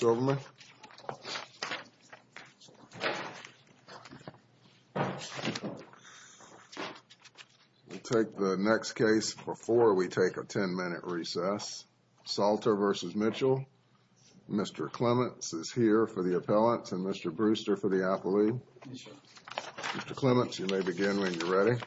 Silverman. We'll take the next case before we take a 10-minute recess. Salter v. Mitchell. Mr. Clements is here for the appellant and Mr. Brewster for the appellee. Mr. Clements, you may begin when you're ready.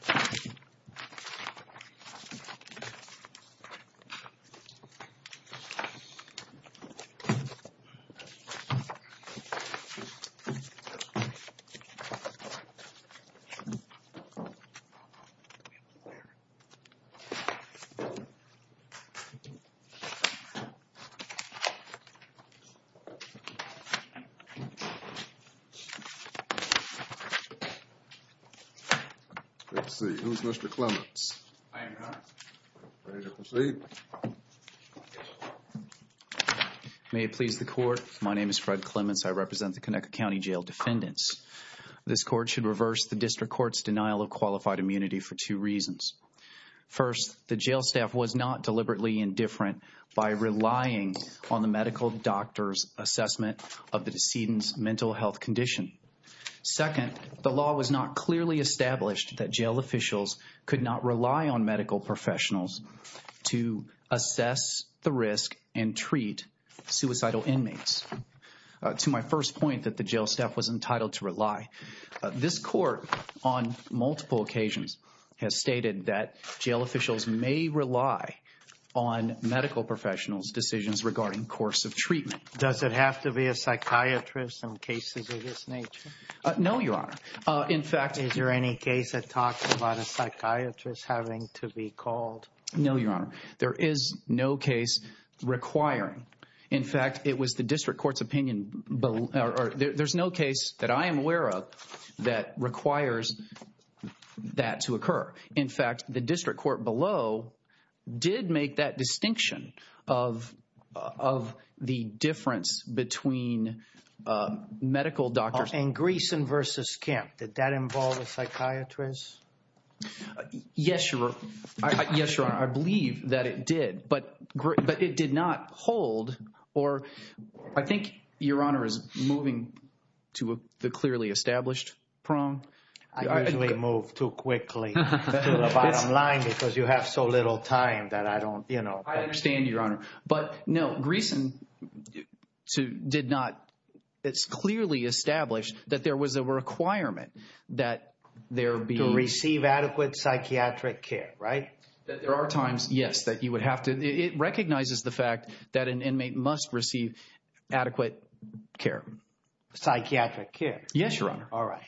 Let's see, who's Mr. Clements? I am, Your Honor. Ready to proceed. May it please the court, my name is Fred Clements. I represent the Conecuh County Jail defendants. This court should reverse the district court's denial of qualified immunity for two reasons. First, the jail staff was not deliberately indifferent by relying on the medical doctor's assessment of the decedent's mental health condition. Second, the law was not clearly established that jail officials could not rely on medical professionals to assess the risk and treat suicidal inmates. To my first point that the jail staff was entitled to rely, this court on multiple occasions has stated that jail officials may rely on medical professionals' decisions regarding course of treatment. Does it have to be a psychiatrist in cases of this nature? No, Your Honor. In fact... Is there any case that talks about a psychiatrist having to be called? No, Your Honor. There is no case requiring. In fact, it was the district court's opinion... There's no case that I am aware of that requires that to occur. In fact, the district court below did make that distinction of the difference between medical doctors... In Greeson v. Kemp, did that involve a psychiatrist? Yes, Your Honor. I believe that it did, but it did not hold or... I think Your Honor is moving to the clearly established prong. I usually move too quickly to the bottom line because you have so little time that I don't, you know... I understand, Your Honor. But no, Greeson did not... It's clearly established that there was a requirement that there be... To receive adequate psychiatric care, right? There are times, yes, that you would have to... It recognizes the fact that an inmate must receive adequate care. Psychiatric care? Yes, Your Honor. All right.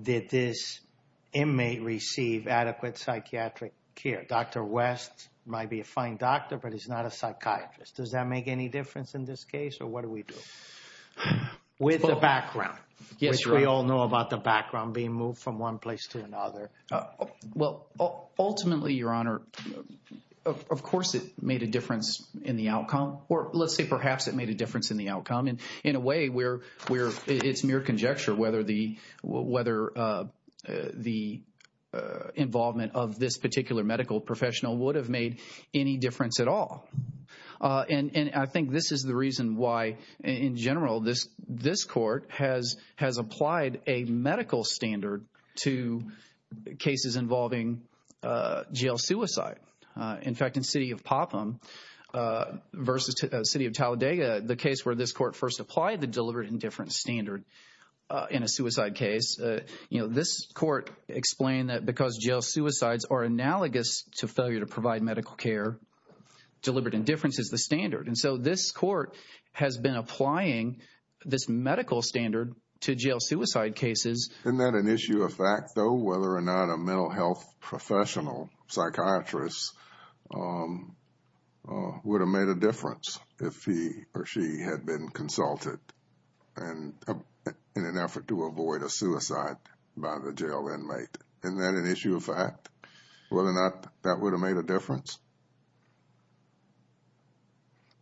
Did this inmate receive adequate psychiatric care? Dr. West might be a fine doctor, but he's not a psychiatrist. Does that make any difference in this case, or what do we do? With the background. Yes, Your Honor. Which we all know about the background being moved from one place to another. Well, ultimately, Your Honor, of course it made a difference in the outcome. Or let's say perhaps it made a difference in the outcome. In a way where it's mere conjecture whether the involvement of this particular medical professional would have made any difference at all. And I think this is the reason why, in general, this court has applied a medical standard to cases involving jail suicide. In fact, in the city of Popham versus the city of Talladega, the case where this court first applied the deliberate indifference standard in a suicide case, this court explained that because jail suicides are analogous to failure to provide medical care, deliberate indifference is the standard. And so this court has been applying this medical standard to jail suicide cases. Isn't that an issue of fact, though, whether or not a mental health professional psychiatrist would have made a difference if he or she had been consulted in an effort to avoid a suicide by the jail inmate? Isn't that an issue of fact, whether or not that would have made a difference?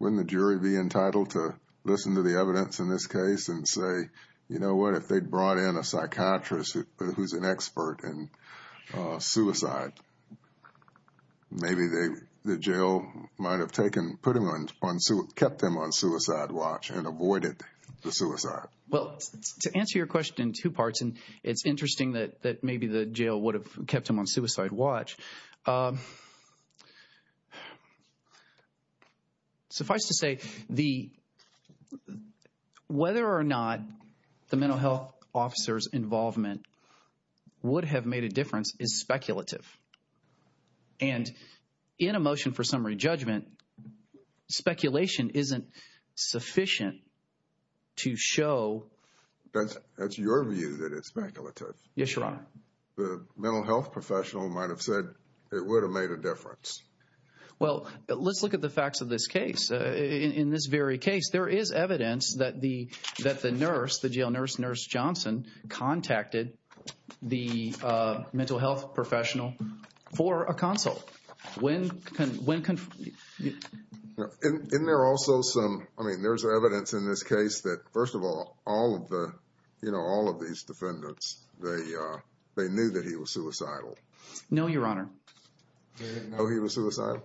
Wouldn't the jury be entitled to listen to the evidence in this case and say, you know what, if they'd brought in a psychiatrist who's an expert in suicide, maybe the jail might have kept him on suicide watch and avoided the suicide. Well, to answer your question in two parts, and it's interesting that maybe the jail would have kept him on suicide watch. Suffice to say, the whether or not the mental health officers involvement would have made a difference is speculative. And in a motion for summary judgment, speculation isn't sufficient to show that that's your view, that it's speculative. Yes, Your Honor. The mental health professional might have said it would have made a difference. Well, let's look at the facts of this case. In this very case, there is evidence that the that the nurse, the jail nurse, Nurse Johnson, contacted the mental health professional for a consult. When, when, when there are also some I mean, there's evidence in this case that, first of all, all of the you know, all of these defendants, they they knew that he was suicidal. No, Your Honor. No, he was suicidal.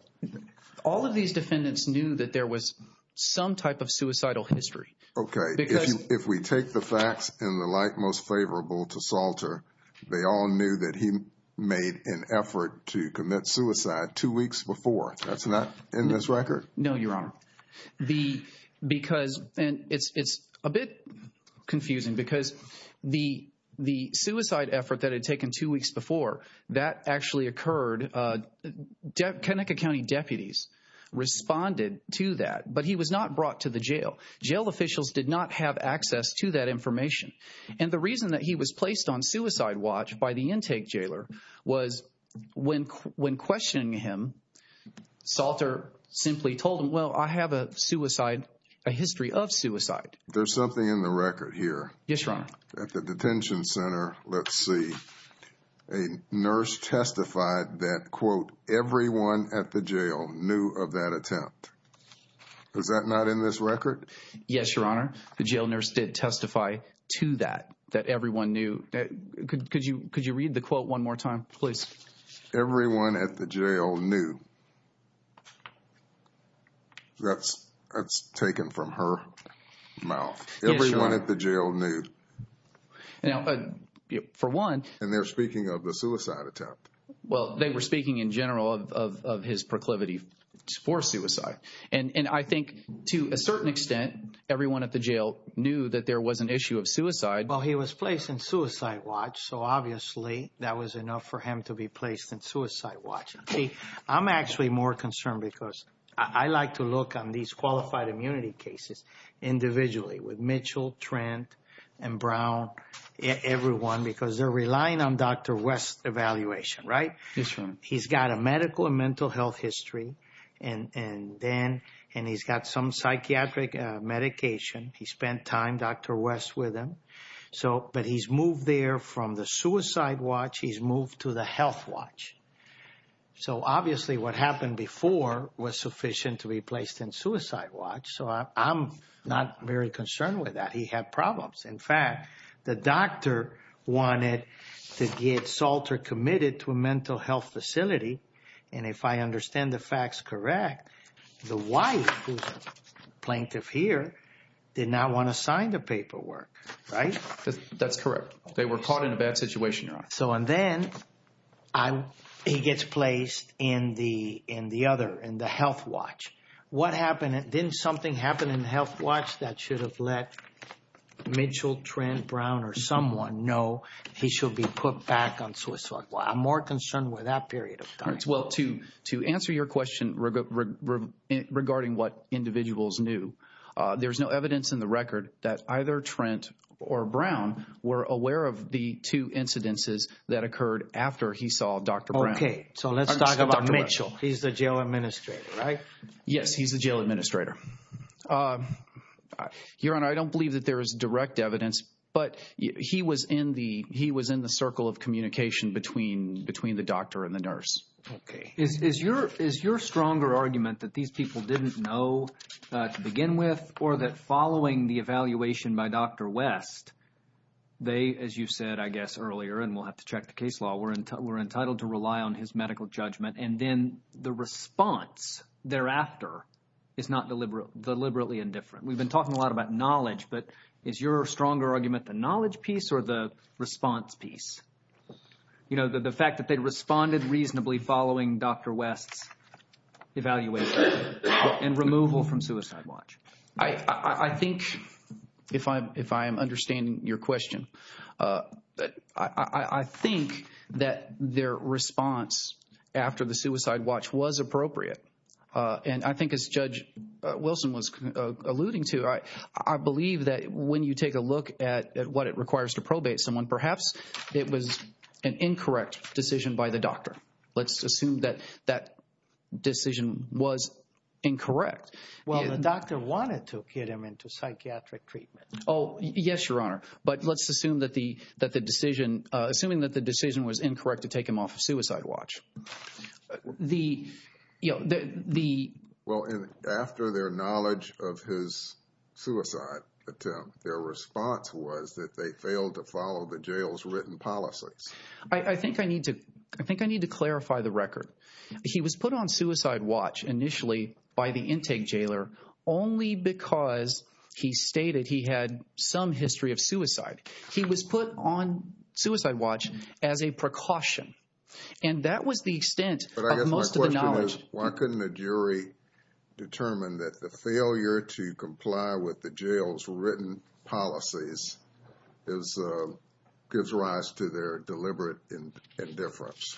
All of these defendants knew that there was some type of suicidal history. OK, because if we take the facts in the light most favorable to Salter, they all knew that he made an effort to commit suicide two weeks before. That's not in this record. No, Your Honor. The because and it's it's a bit confusing because the the suicide effort that had taken two weeks before that actually occurred. Connecticut County deputies responded to that, but he was not brought to the jail. Jail officials did not have access to that information. And the reason that he was placed on suicide watch by the intake jailer was when when questioning him, Salter simply told him, well, I have a suicide, a history of suicide. There's something in the record here. Yes, Your Honor. At the detention center. Let's see. A nurse testified that, quote, everyone at the jail knew of that attempt. Is that not in this record? Yes, Your Honor. The jail nurse did testify to that, that everyone knew. Could you could you read the quote one more time, please? Everyone at the jail knew. That's that's taken from her mouth. Everyone at the jail knew. Now, for one, and they're speaking of the suicide attempt. Well, they were speaking in general of his proclivity for suicide. And I think to a certain extent, everyone at the jail knew that there was an issue of suicide while he was placed in suicide watch. So obviously that was enough for him to be placed in suicide watch. I'm actually more concerned because I like to look on these qualified immunity cases individually with Mitchell, Trent and Brown. Everyone, because they're relying on Dr. West's evaluation. Right. He's got a medical and mental health history. And then and he's got some psychiatric medication. He spent time, Dr. West with him. So but he's moved there from the suicide watch. He's moved to the health watch. So obviously what happened before was sufficient to be placed in suicide watch. So I'm not very concerned with that. He had problems. In fact, the doctor wanted to get Salter committed to a mental health facility. And if I understand the facts, correct. The wife, who's a plaintiff here, did not want to sign the paperwork. Right. That's correct. They were caught in a bad situation. So and then I'm he gets placed in the in the other in the health watch. What happened? Didn't something happen in health watch that should have let Mitchell, Trent, Brown or someone know he should be put back on suicide? I'm more concerned with that period of time. Well, to to answer your question regarding what individuals knew, there's no evidence in the record that either Trent or Brown were aware of the two incidences that occurred after he saw Dr. Brown. OK, so let's talk about Mitchell. He's the jail administrator, right? Yes, he's the jail administrator. Your Honor, I don't believe that there is direct evidence, but he was in the he was in the circle of communication between between the doctor and the nurse. OK, is your is your stronger argument that these people didn't know to begin with or that following the evaluation by Dr. West, they, as you said, I guess earlier, and we'll have to check the case law, we're we're entitled to rely on his medical judgment. And then the response thereafter is not deliberate, deliberately indifferent. We've been talking a lot about knowledge, but is your stronger argument the knowledge piece or the response piece? You know, the fact that they responded reasonably following Dr. West's evaluation and removal from suicide watch. I think if I'm if I am understanding your question, I think that their response after the suicide watch was appropriate. And I think as Judge Wilson was alluding to, I believe that when you take a look at what it requires to probate someone, perhaps it was an incorrect decision by the doctor. Let's assume that that decision was incorrect. Well, the doctor wanted to get him into psychiatric treatment. Oh, yes, your honor. But let's assume that the that the decision, assuming that the decision was incorrect to take him off a suicide watch. The you know, the well, after their knowledge of his suicide attempt, their response was that they failed to follow the jail's written policies. I think I need to I think I need to clarify the record. He was put on suicide watch initially by the intake jailer only because he stated he had some history of suicide. He was put on suicide watch as a precaution. And that was the extent of most of the knowledge. Why couldn't a jury determine that the failure to comply with the jail's written policies is gives rise to their deliberate indifference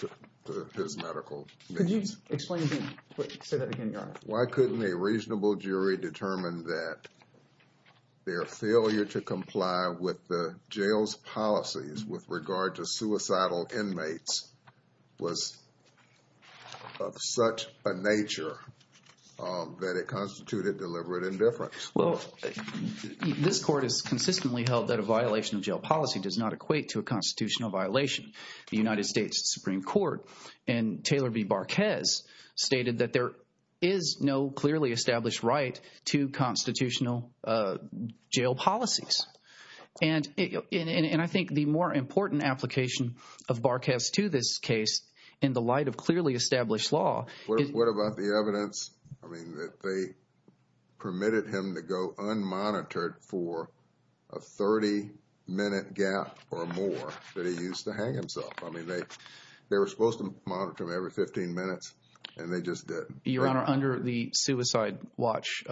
to his medical. Could you explain that again? Why couldn't a reasonable jury determine that their failure to comply with the jail's policies with regard to suicidal inmates was of such a nature that it constituted deliberate indifference? Well, this court has consistently held that a violation of jail policy does not equate to a constitutional violation. The United States Supreme Court and Taylor v. Barquez stated that there is no clearly established right to constitutional jail policies. And I think the more important application of Barquez to this case in the light of clearly established law. What about the evidence? I mean, they permitted him to go unmonitored for a 30 minute gap or more that he used to hang himself. I mean, they they were supposed to monitor him every 15 minutes and they just didn't. Your Honor, under the suicide watch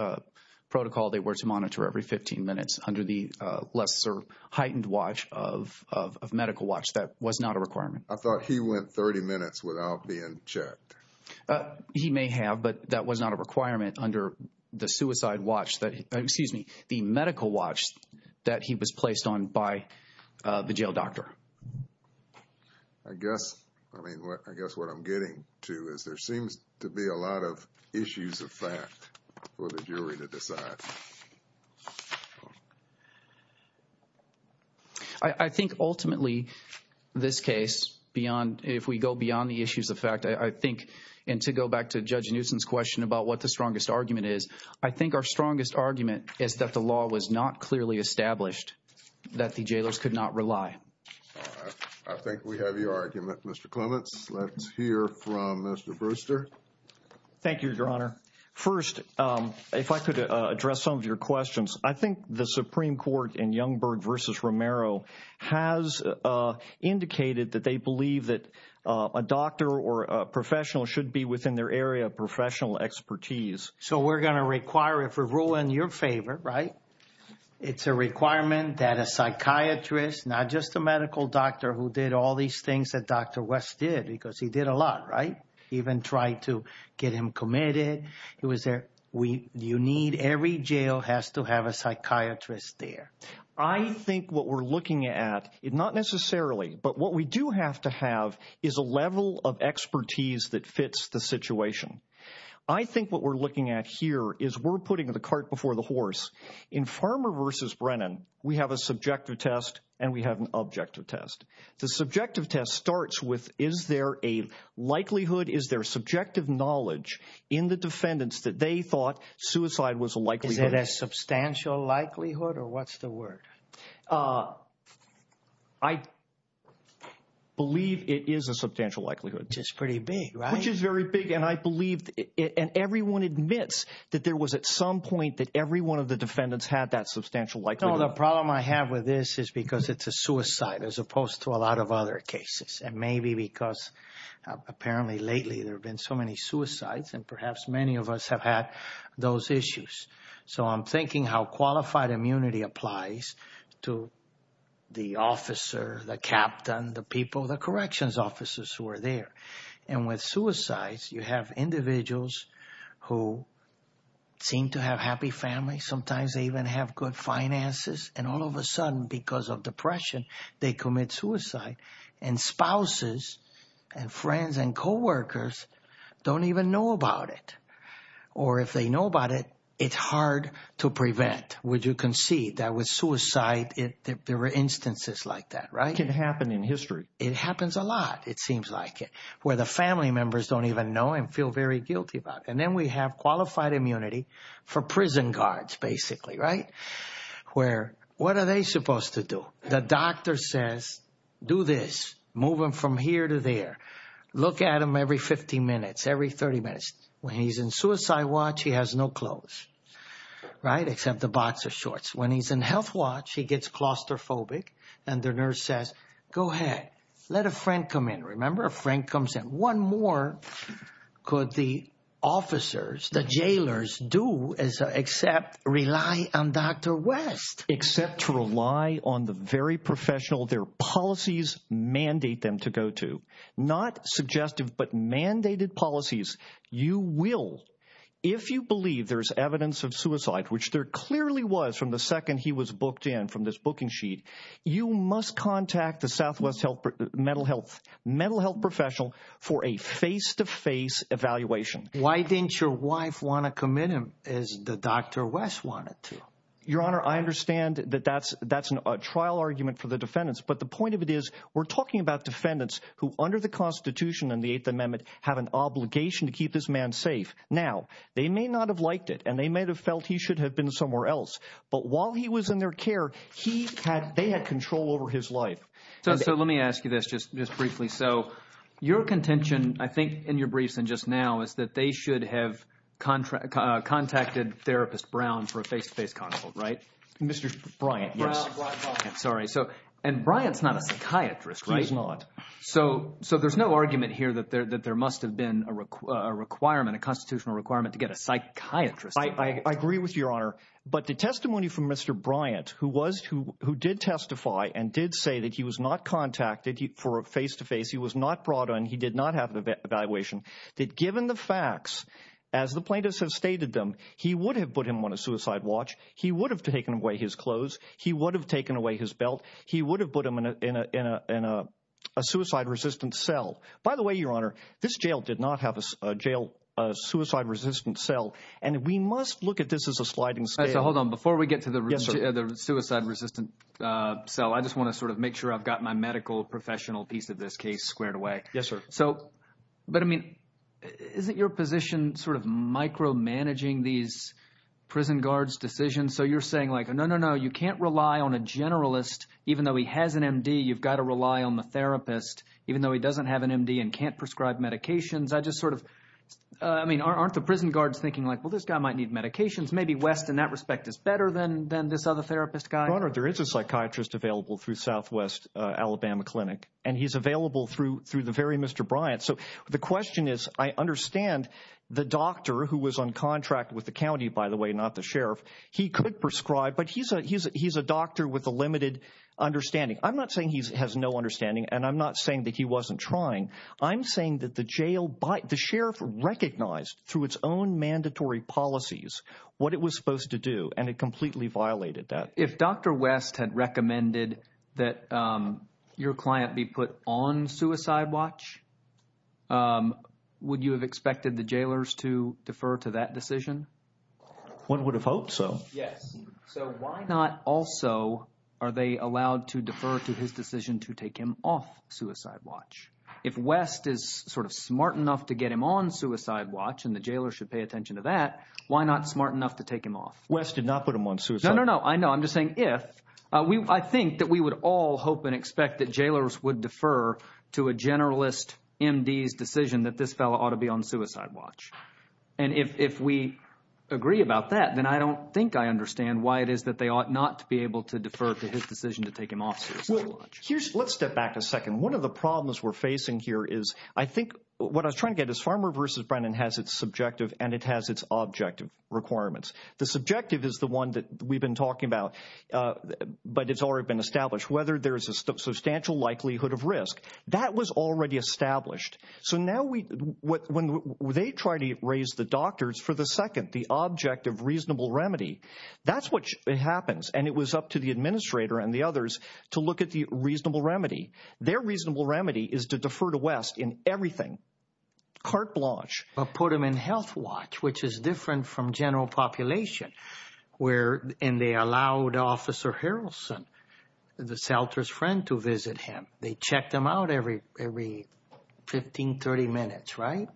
protocol, they were to monitor every 15 minutes under the lesser heightened watch of medical watch. That was not a requirement. I thought he went 30 minutes without being checked. He may have, but that was not a requirement under the suicide watch that excuse me, the medical watch that he was placed on by the jail doctor. I guess I mean, I guess what I'm getting to is there seems to be a lot of issues of fact for the jury to decide. I think ultimately this case beyond if we go beyond the issues of fact, I think and to go back to Judge Newsom's question about what the strongest argument is. I think our strongest argument is that the law was not clearly established, that the jailers could not rely. I think we have your argument, Mr. Clements. Let's hear from Mr. Brewster. Thank you, Your Honor. First, if I could address some of your questions, I think the Supreme Court in Youngberg versus Romero has indicated that they believe that a doctor or a professional should be within their area of professional expertise. So we're going to require it for rule in your favor. Right. It's a requirement that a psychiatrist, not just a medical doctor who did all these things that Dr. West did because he did a lot. Right. Even tried to get him committed. It was there. We you need every jail has to have a psychiatrist there. I think what we're looking at is not necessarily. But what we do have to have is a level of expertise that fits the situation. I think what we're looking at here is we're putting the cart before the horse in Farmer versus Brennan. We have a subjective test and we have an objective test. The subjective test starts with is there a likelihood? Is there subjective knowledge in the defendants that they thought suicide was likely? Is it a substantial likelihood or what's the word? I believe it is a substantial likelihood. Just pretty big. Which is very big. And I believe it. And everyone admits that there was at some point that every one of the defendants had that substantial. The problem I have with this is because it's a suicide as opposed to a lot of other cases. And maybe because apparently lately there have been so many suicides and perhaps many of us have had those issues. So I'm thinking how qualified immunity applies to the officer, the captain, the people, the corrections officers who are there. And with suicides, you have individuals who seem to have happy families. Sometimes they even have good finances. And all of a sudden, because of depression, they commit suicide. And spouses and friends and coworkers don't even know about it. Or if they know about it, it's hard to prevent. Would you concede that with suicide there were instances like that, right? It can happen in history. It happens a lot, it seems like, where the family members don't even know and feel very guilty about it. And then we have qualified immunity for prison guards, basically, right? Where, what are they supposed to do? The doctor says, do this, move him from here to there. Look at him every 15 minutes, every 30 minutes. When he's in suicide watch, he has no clothes, right, except the boxer shorts. When he's in health watch, he gets claustrophobic. And the nurse says, go ahead, let a friend come in. Remember, a friend comes in. One more could the officers, the jailers do except rely on Dr. West. Except to rely on the very professional their policies mandate them to go to. Not suggestive, but mandated policies. You will, if you believe there's evidence of suicide, which there clearly was from the second he was booked in from this booking sheet, you must contact the Southwest Mental Health Professional for a face-to-face evaluation. Why didn't your wife want to commit him as Dr. West wanted to? Your Honor, I understand that that's a trial argument for the defendants. But the point of it is, we're talking about defendants who, under the Constitution and the Eighth Amendment, have an obligation to keep this man safe. Now, they may not have liked it, and they may have felt he should have been somewhere else. But while he was in their care, they had control over his life. So let me ask you this, just briefly. So your contention, I think, in your briefs and just now, is that they should have contacted therapist Brown for a face-to-face consult, right? Mr. Bryant, yes. Sorry. And Bryant's not a psychiatrist, right? He is not. So there's no argument here that there must have been a requirement, a constitutional requirement to get a psychiatrist. I agree with you, Your Honor. But the testimony from Mr. Bryant, who did testify and did say that he was not contacted for a face-to-face, he was not brought in, he did not have an evaluation, that given the facts, as the plaintiffs have stated them, he would have put him on a suicide watch, he would have taken away his clothes, he would have taken away his belt, he would have put him in a suicide-resistant cell. By the way, Your Honor, this jail did not have a suicide-resistant cell. And we must look at this as a sliding scale. Hold on. Before we get to the suicide-resistant cell, I just want to sort of make sure I've got my medical professional piece of this case squared away. Yes, sir. But, I mean, isn't your position sort of micromanaging these prison guards' decisions? So you're saying, like, no, no, no, you can't rely on a generalist, even though he has an M.D., you've got to rely on the therapist, even though he doesn't have an M.D. and can't prescribe medications. I just sort of, I mean, aren't the prison guards thinking, like, well, this guy might need medications. Maybe West, in that respect, is better than this other therapist guy. Your Honor, there is a psychiatrist available through Southwest Alabama Clinic, and he's available through the very Mr. Bryant. So the question is, I understand the doctor, who was on contract with the county, by the way, not the sheriff. He could prescribe, but he's a doctor with a limited understanding. I'm not saying he has no understanding, and I'm not saying that he wasn't trying. I'm saying that the jail—the sheriff recognized through its own mandatory policies what it was supposed to do, and it completely violated that. If Dr. West had recommended that your client be put on suicide watch, would you have expected the jailers to defer to that decision? One would have hoped so. Yes. So why not also are they allowed to defer to his decision to take him off suicide watch? If West is sort of smart enough to get him on suicide watch, and the jailers should pay attention to that, why not smart enough to take him off? West did not put him on suicide watch. No, no, no. I know. I'm just saying if. I think that we would all hope and expect that jailers would defer to a generalist MD's decision that this fellow ought to be on suicide watch. And if we agree about that, then I don't think I understand why it is that they ought not to be able to defer to his decision to take him off suicide watch. Let's step back a second. One of the problems we're facing here is I think what I was trying to get is Farmer v. Brennan has its subjective and it has its objective requirements. The subjective is the one that we've been talking about, but it's already been established. Whether there is a substantial likelihood of risk, that was already established. So now when they try to raise the doctors for the second, the object of reasonable remedy, that's what happens. And it was up to the administrator and the others to look at the reasonable remedy. Their reasonable remedy is to defer to West in everything. Carte blanche. Put him in health watch, which is different from general population where and they allowed Officer Harrelson, the shelter's friend, to visit him. They checked him out every every 15, 30 minutes, right?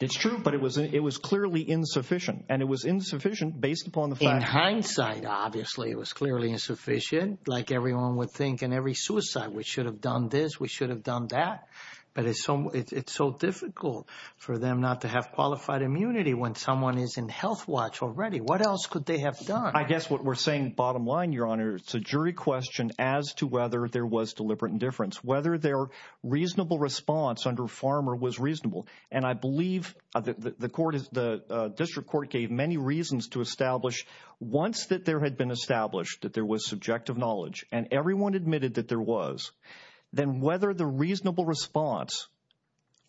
It's true, but it was it was clearly insufficient and it was insufficient based upon the fact. In hindsight, obviously, it was clearly insufficient. Like everyone would think in every suicide, we should have done this. We should have done that. But it's so it's so difficult for them not to have qualified immunity when someone is in health watch already. What else could they have done? I guess what we're saying. Bottom line, your honor. It's a jury question as to whether there was deliberate indifference, whether they are reasonable response under Farmer was reasonable. And I believe the court is the district court gave many reasons to establish once that there had been established that there was subjective knowledge and everyone admitted that there was, then whether the reasonable response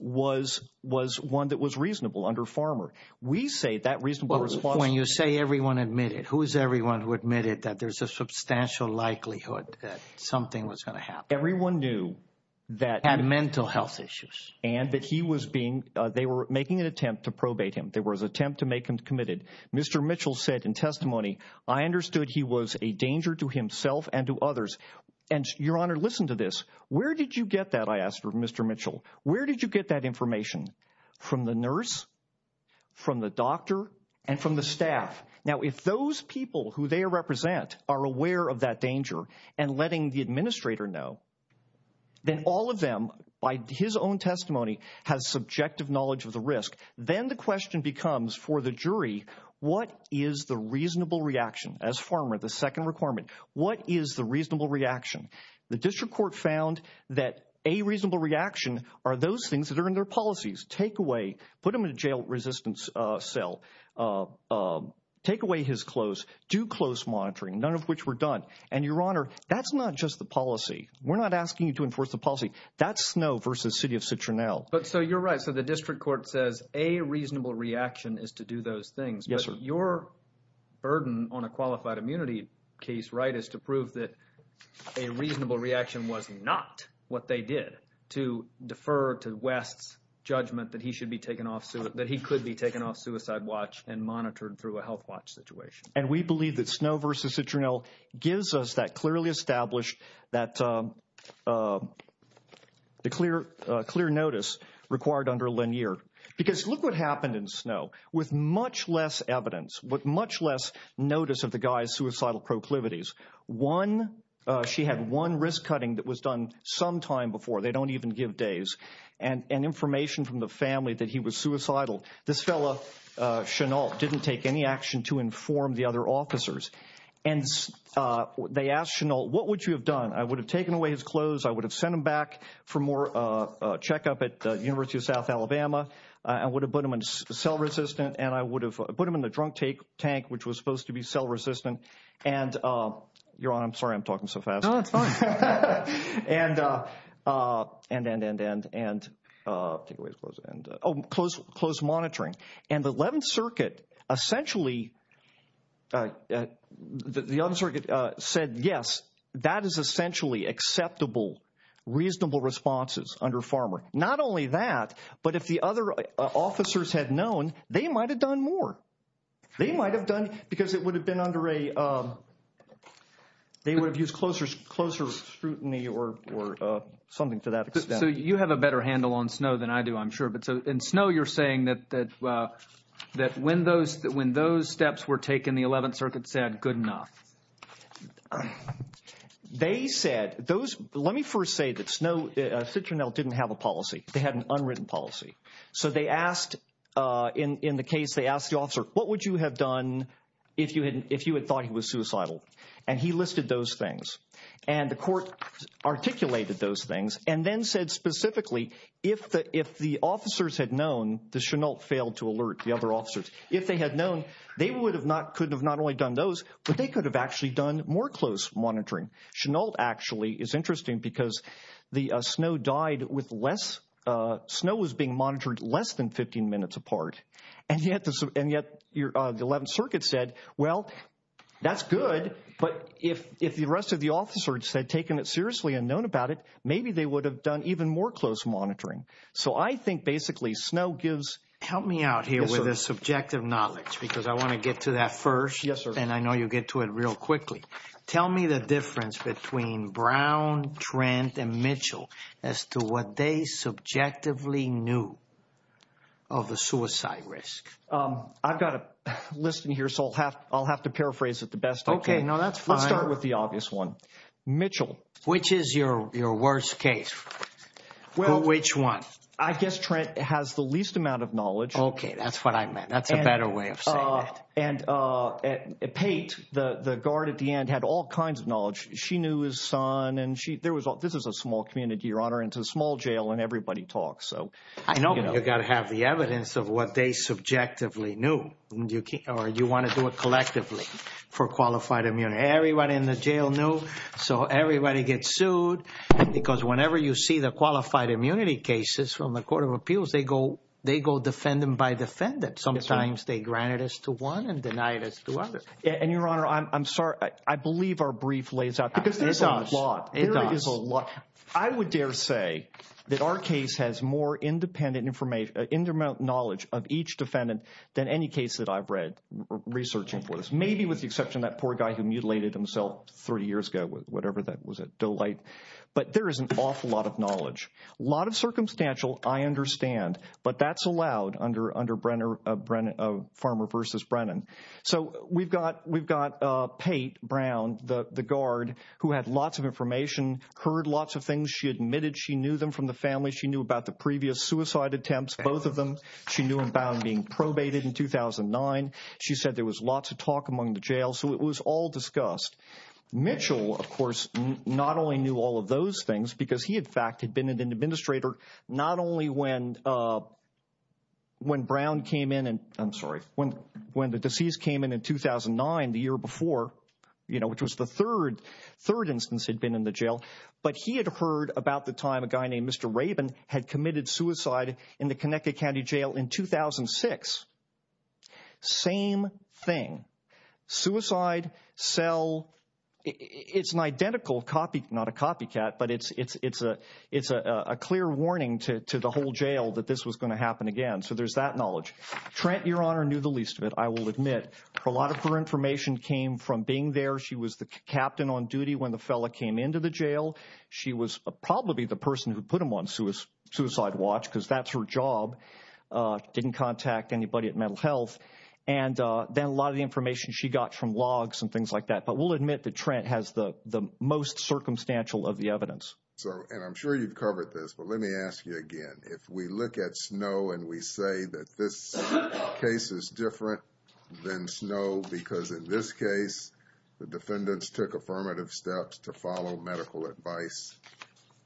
was was one that was reasonable under Farmer. We say that reasonable response. When you say everyone admitted, who is everyone who admitted that there's a substantial likelihood that something was going to happen? Everyone knew that had mental health issues and that he was being they were making an attempt to probate him. There was attempt to make him committed. Mr. Mitchell said in testimony, I understood he was a danger to himself and to others. And your honor, listen to this. Where did you get that? I asked for Mr. Mitchell. Where did you get that information from the nurse, from the doctor and from the staff? Now, if those people who they represent are aware of that danger and letting the administrator know. Then all of them, by his own testimony, has subjective knowledge of the risk. Then the question becomes for the jury. What is the reasonable reaction as former the second requirement? What is the reasonable reaction? The district court found that a reasonable reaction are those things that are in their policies. Take away, put him in a jail resistance cell, take away his clothes, do close monitoring, none of which were done. And your honor, that's not just the policy. We're not asking you to enforce the policy. That's snow versus city of Citronelle. But so you're right. So the district court says a reasonable reaction is to do those things. Your burden on a qualified immunity case, right, is to prove that a reasonable reaction was not what they did to defer to West's judgment that he should be taken off. So that he could be taken off suicide watch and monitored through a health watch situation. And we believe that snow versus Citronelle gives us that clearly established that the clear, clear notice required under linear. Because look what happened in snow with much less evidence, but much less notice of the guy's suicidal proclivities. One, she had one risk cutting that was done sometime before. They don't even give days and information from the family that he was suicidal. This fellow, Chanel, didn't take any action to inform the other officers. And they asked Chanel, what would you have done? I would have taken away his clothes. I would have sent him back for more checkup at the University of South Alabama. I would have put him in cell resistant. And I would have put him in the drunk tank, which was supposed to be cell resistant. And your honor, I'm sorry I'm talking so fast. And, and, and, and, and close, close monitoring. And the 11th Circuit essentially, the other circuit said, yes, that is essentially acceptable, reasonable responses under farmer. Not only that, but if the other officers had known, they might have done more. They might have done, because it would have been under a, they would have used closer, closer scrutiny or something to that extent. So you have a better handle on snow than I do, I'm sure. But so in snow, you're saying that, that, that when those, when those steps were taken, the 11th Circuit said, good enough. They said those, let me first say that snow, Citronelle didn't have a policy. They had an unwritten policy. So they asked in, in the case, they asked the officer, what would you have done if you hadn't, if you had thought he was suicidal? And he listed those things. And the court articulated those things and then said specifically, if the, if the officers had known the Chanel failed to alert the other officers. If they had known, they would have not, could have not only done those, but they could have actually done more close monitoring. Chanel actually is interesting because the snow died with less, snow was being monitored less than 15 minutes apart. And yet, and yet your, the 11th Circuit said, well, that's good. But if, if the rest of the officers had taken it seriously and known about it, maybe they would have done even more close monitoring. So I think basically snow gives. Help me out here with a subjective knowledge, because I want to get to that first. Yes, sir. And I know you'll get to it real quickly. Tell me the difference between Brown, Trent and Mitchell as to what they subjectively knew. Of the suicide risk. I've got a list in here, so I'll have, I'll have to paraphrase it the best. Okay, no, that's fine. Start with the obvious one. Mitchell. Which is your, your worst case? Well, which one? I guess Trent has the least amount of knowledge. Okay, that's what I meant. That's a better way of. And Pate, the guard at the end, had all kinds of knowledge. She knew his son. And she, there was, this is a small community, Your Honor. It's a small jail, and everybody talks. So. I know. You've got to have the evidence of what they subjectively knew. Or you want to do it collectively for qualified immunity. Everybody in the jail knew. So everybody gets sued. Because whenever you see the qualified immunity cases from the Court of Appeals, they go, they go defendant by defendant. Sometimes they granted us to one and denied us to others. And, Your Honor, I'm, I'm sorry. I believe our brief lays out. Because there's a lot. It does. There is a lot. I would dare say that our case has more independent information, independent knowledge of each defendant than any case that I've read, researching for this. Maybe with the exception of that poor guy who mutilated himself 30 years ago, whatever that was, a delight. But there is an awful lot of knowledge. A lot of circumstantial, I understand. But that's allowed under, under Brenner, Brenner, Farmer versus Brennan. So we've got, we've got Pate Brown, the guard who had lots of information, heard lots of things. She admitted she knew them from the family. She knew about the previous suicide attempts. Both of them. She knew about being probated in 2009. She said there was lots of talk among the jail. So it was all discussed. Mitchell, of course, not only knew all of those things because he, in fact, had been an administrator not only when, when Brown came in and I'm sorry, when, when the disease came in in 2009, the year before, you know, which was the third, third instance had been in the jail. But he had heard about the time a guy named Mr. Rabin had committed suicide in the Connecticut County Jail in 2006. Same thing. Suicide cell. It's an identical copy, not a copycat, but it's, it's, it's a, it's a clear warning to the whole jail that this was going to happen again. So there's that knowledge. Trent, your honor, knew the least of it. I will admit a lot of her information came from being there. She was the captain on duty when the fella came into the jail. She was probably the person who put him on suicide watch because that's her job. Didn't contact anybody at mental health. And then a lot of the information she got from logs and things like that. But we'll admit that Trent has the most circumstantial of the evidence. So, and I'm sure you've covered this, but let me ask you again, if we look at snow and we say that this case is different than snow, because in this case, the defendants took affirmative steps to follow medical advice,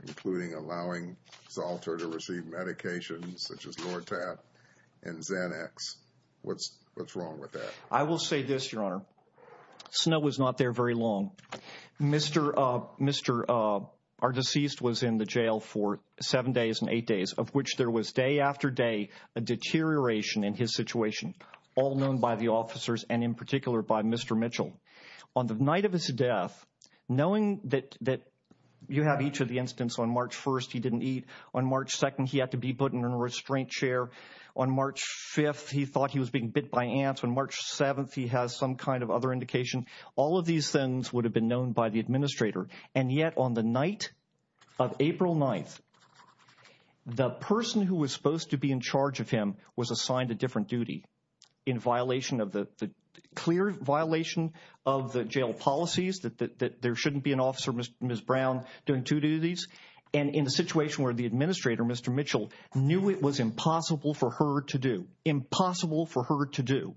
including allowing Salter to receive medications, such as Lortab and Xanax. What's, what's wrong with that? I will say this, your honor. Snow was not there very long. Mr. Mr. Our deceased was in the jail for seven days and eight days of which there was day after day, a deterioration in his situation, all known by the officers and in particular by Mr. Mitchell on the night of his death, knowing that that you have each of the incidents on March 1st. He didn't eat on March 2nd. He had to be put in a restraint chair on March 5th. He thought he was being bit by ants on March 7th. He has some kind of other indication. All of these things would have been known by the administrator. And yet on the night of April 9th, the person who was supposed to be in charge of him was assigned a different duty in violation of the clear violation of the jail policies that there shouldn't be an officer. Miss Brown doing to do these. And in a situation where the administrator, Mr. Mitchell knew it was impossible for her to do impossible for her to do.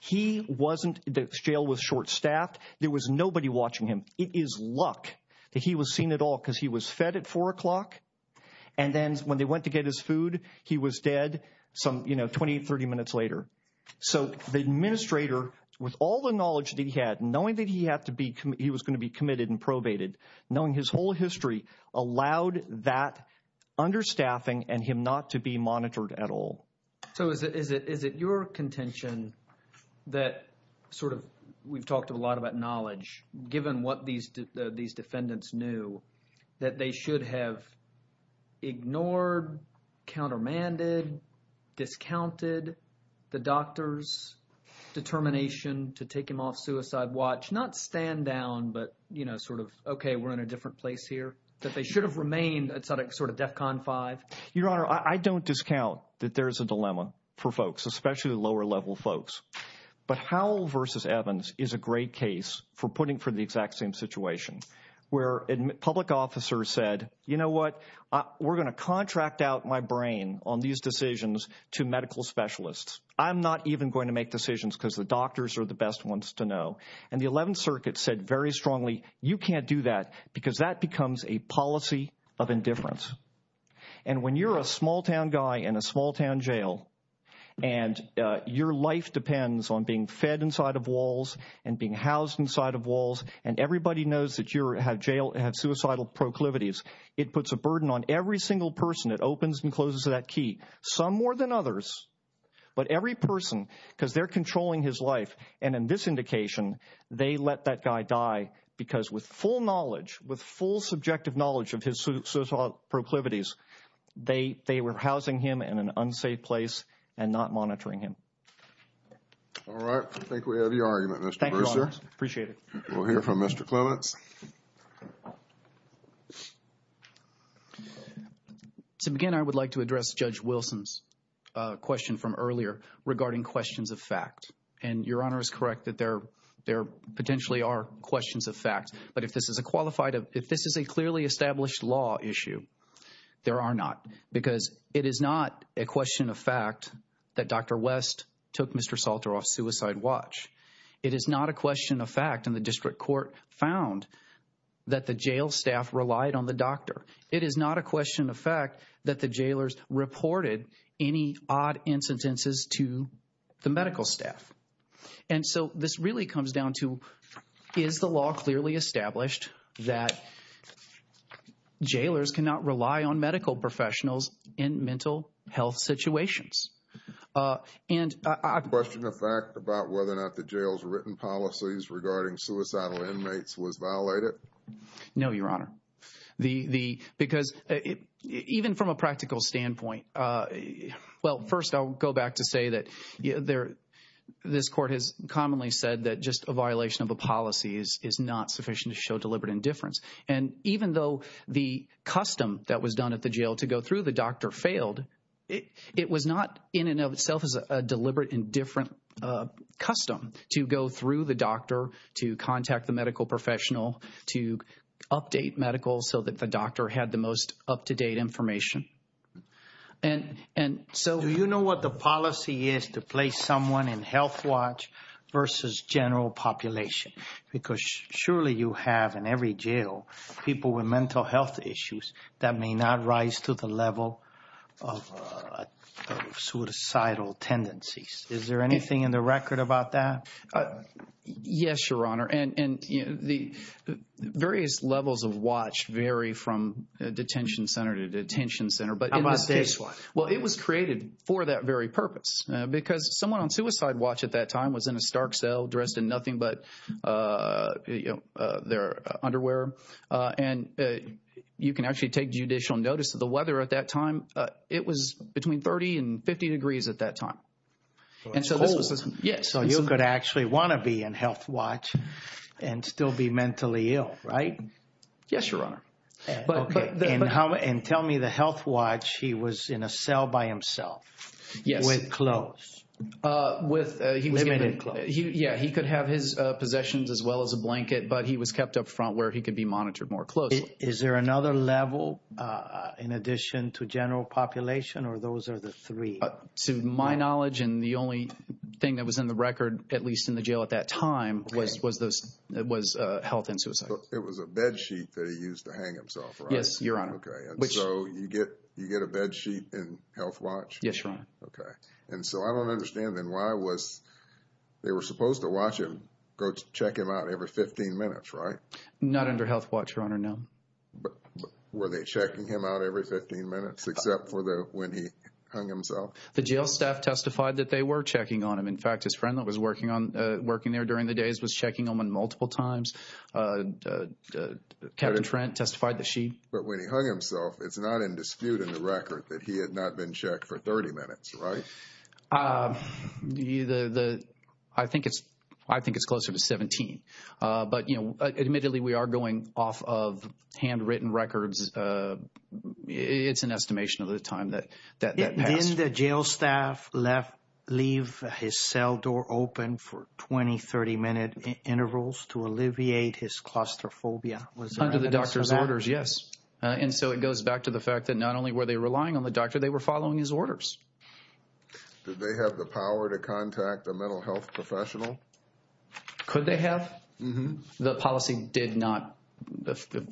He wasn't. The jail was short staffed. There was nobody watching him. It is luck that he was seen at all because he was fed at four o'clock. And then when they went to get his food, he was dead some 20, 30 minutes later. So the administrator, with all the knowledge that he had, knowing that he had to be, he was going to be committed and probated, knowing his whole history allowed that understaffing and him not to be monitored at all. So is it is it is it your contention that sort of we've talked a lot about knowledge, given what these these defendants knew that they should have ignored, countermanded, discounted the doctor's determination to take him off suicide watch, not stand down, but, you know, sort of, OK, we're in a different place here that they should have remained sort of DEFCON five. Your Honor, I don't discount that there is a dilemma for folks, especially lower level folks. But Howell versus Evans is a great case for putting for the exact same situation where a public officer said, you know what, we're going to contract out my brain on these decisions to medical specialists. I'm not even going to make decisions because the doctors are the best ones to know. And the 11th Circuit said very strongly, you can't do that because that becomes a policy of indifference. And when you're a small town guy in a small town jail and your life depends on being fed inside of walls and being housed inside of walls and everybody knows that you have jail have suicidal proclivities, it puts a burden on every single person. And it opens and closes that key some more than others. But every person, because they're controlling his life. And in this indication, they let that guy die because with full knowledge, with full subjective knowledge of his suicidal proclivities, they were housing him in an unsafe place and not monitoring him. All right. I think we have your argument. Thank you, Your Honor. Appreciate it. We'll hear from Mr. Clements. So, again, I would like to address Judge Wilson's question from earlier regarding questions of fact. And Your Honor is correct that there there potentially are questions of fact. But if this is a qualified if this is a clearly established law issue, there are not because it is not a question of fact that Dr. West took Mr. Salter off suicide watch. It is not a question of fact in the district court found that the jail staff relied on the doctor. It is not a question of fact that the jailers reported any odd incidences to the medical staff. And so this really comes down to, is the law clearly established that jailers cannot rely on medical professionals in mental health situations? And I question the fact about whether or not the jail's written policies regarding suicidal inmates was violated. No, Your Honor. The the because even from a practical standpoint. Well, first, I'll go back to say that there this court has commonly said that just a violation of a policy is is not sufficient to show deliberate indifference. And even though the custom that was done at the jail to go through the doctor failed, it was not in and of itself as a deliberate indifferent custom to go through the doctor to contact the medical professional to update medical so that the doctor had the most up to date information. And and so you know what the policy is to place someone in health watch versus general population, because surely you have in every jail people with mental health issues that may not rise to the level of suicidal tendencies. Is there anything in the record about that? Yes, Your Honor. And the various levels of watch vary from detention center to detention center. But I must say, well, it was created for that very purpose because someone on suicide watch at that time was in a stark cell dressed in nothing but their underwear. And you can actually take judicial notice of the weather at that time. It was between 30 and 50 degrees at that time. Yes. So you could actually want to be in health watch and still be mentally ill, right? Yes, Your Honor. But tell me the health watch. He was in a cell by himself. Yes. With clothes. With him in it. Yeah, he could have his possessions as well as a blanket, but he was kept up front where he could be monitored more closely. Is there another level in addition to general population or those are the three? To my knowledge and the only thing that was in the record, at least in the jail at that time, was health and suicide. It was a bed sheet that he used to hang himself, right? Yes, Your Honor. Okay. And so you get a bed sheet in health watch? Yes, Your Honor. Okay. And so I don't understand then why was – they were supposed to watch him, go check him out every 15 minutes, right? Not under health watch, Your Honor, no. Were they checking him out every 15 minutes except for when he hung himself? The jail staff testified that they were checking on him. In fact, his friend that was working there during the days was checking on him multiple times. Captain Trent testified that she – But when he hung himself, it's not in dispute in the record that he had not been checked for 30 minutes, right? The – I think it's closer to 17. But, you know, admittedly, we are going off of handwritten records. It's an estimation of the time that passed. Didn't the jail staff leave his cell door open for 20, 30-minute intervals to alleviate his claustrophobia? Under the doctor's orders, yes. And so it goes back to the fact that not only were they relying on the doctor, they were following his orders. Did they have the power to contact a mental health professional? Could they have? Mm-hmm. The policy did not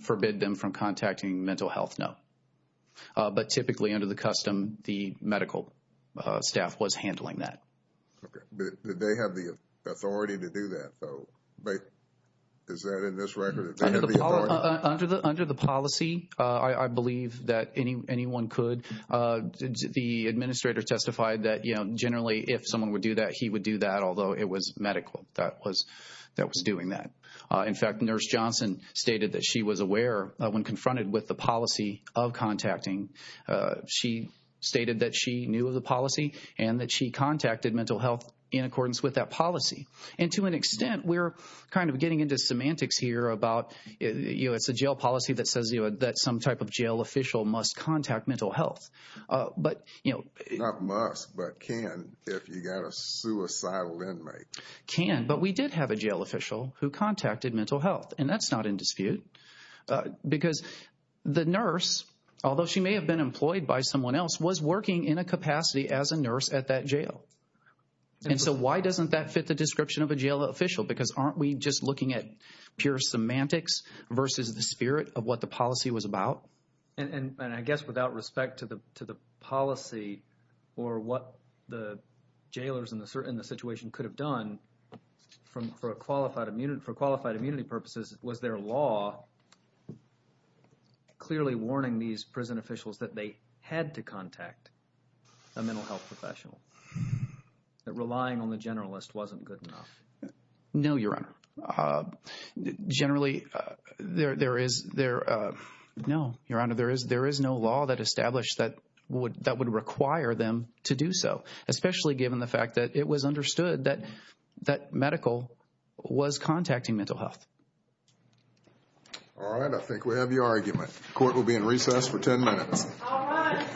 forbid them from contacting mental health, no. But typically, under the custom, the medical staff was handling that. Okay. Did they have the authority to do that, though? Is that in this record? Under the policy, I believe that anyone could. The administrator testified that, you know, generally if someone would do that, he would do that, although it was medical that was doing that. In fact, Nurse Johnson stated that she was aware when confronted with the policy of contacting. She stated that she knew of the policy and that she contacted mental health in accordance with that policy. And to an extent, we're kind of getting into semantics here about, you know, it's a jail policy that says, you know, that some type of jail official must contact mental health. Not must, but can if you've got a suicidal inmate. Can. But we did have a jail official who contacted mental health, and that's not in dispute. Because the nurse, although she may have been employed by someone else, was working in a capacity as a nurse at that jail. And so why doesn't that fit the description of a jail official? Because aren't we just looking at pure semantics versus the spirit of what the policy was about? And I guess without respect to the policy or what the jailers in the situation could have done for qualified immunity purposes, was their law clearly warning these prison officials that they had to contact a mental health professional, that relying on the generalist wasn't good enough? No, Your Honor. Generally, there is no law that established that would require them to do so, especially given the fact that it was understood that medical was contacting mental health. All right. I think we have your argument. Court will be in recess for 10 minutes. All right.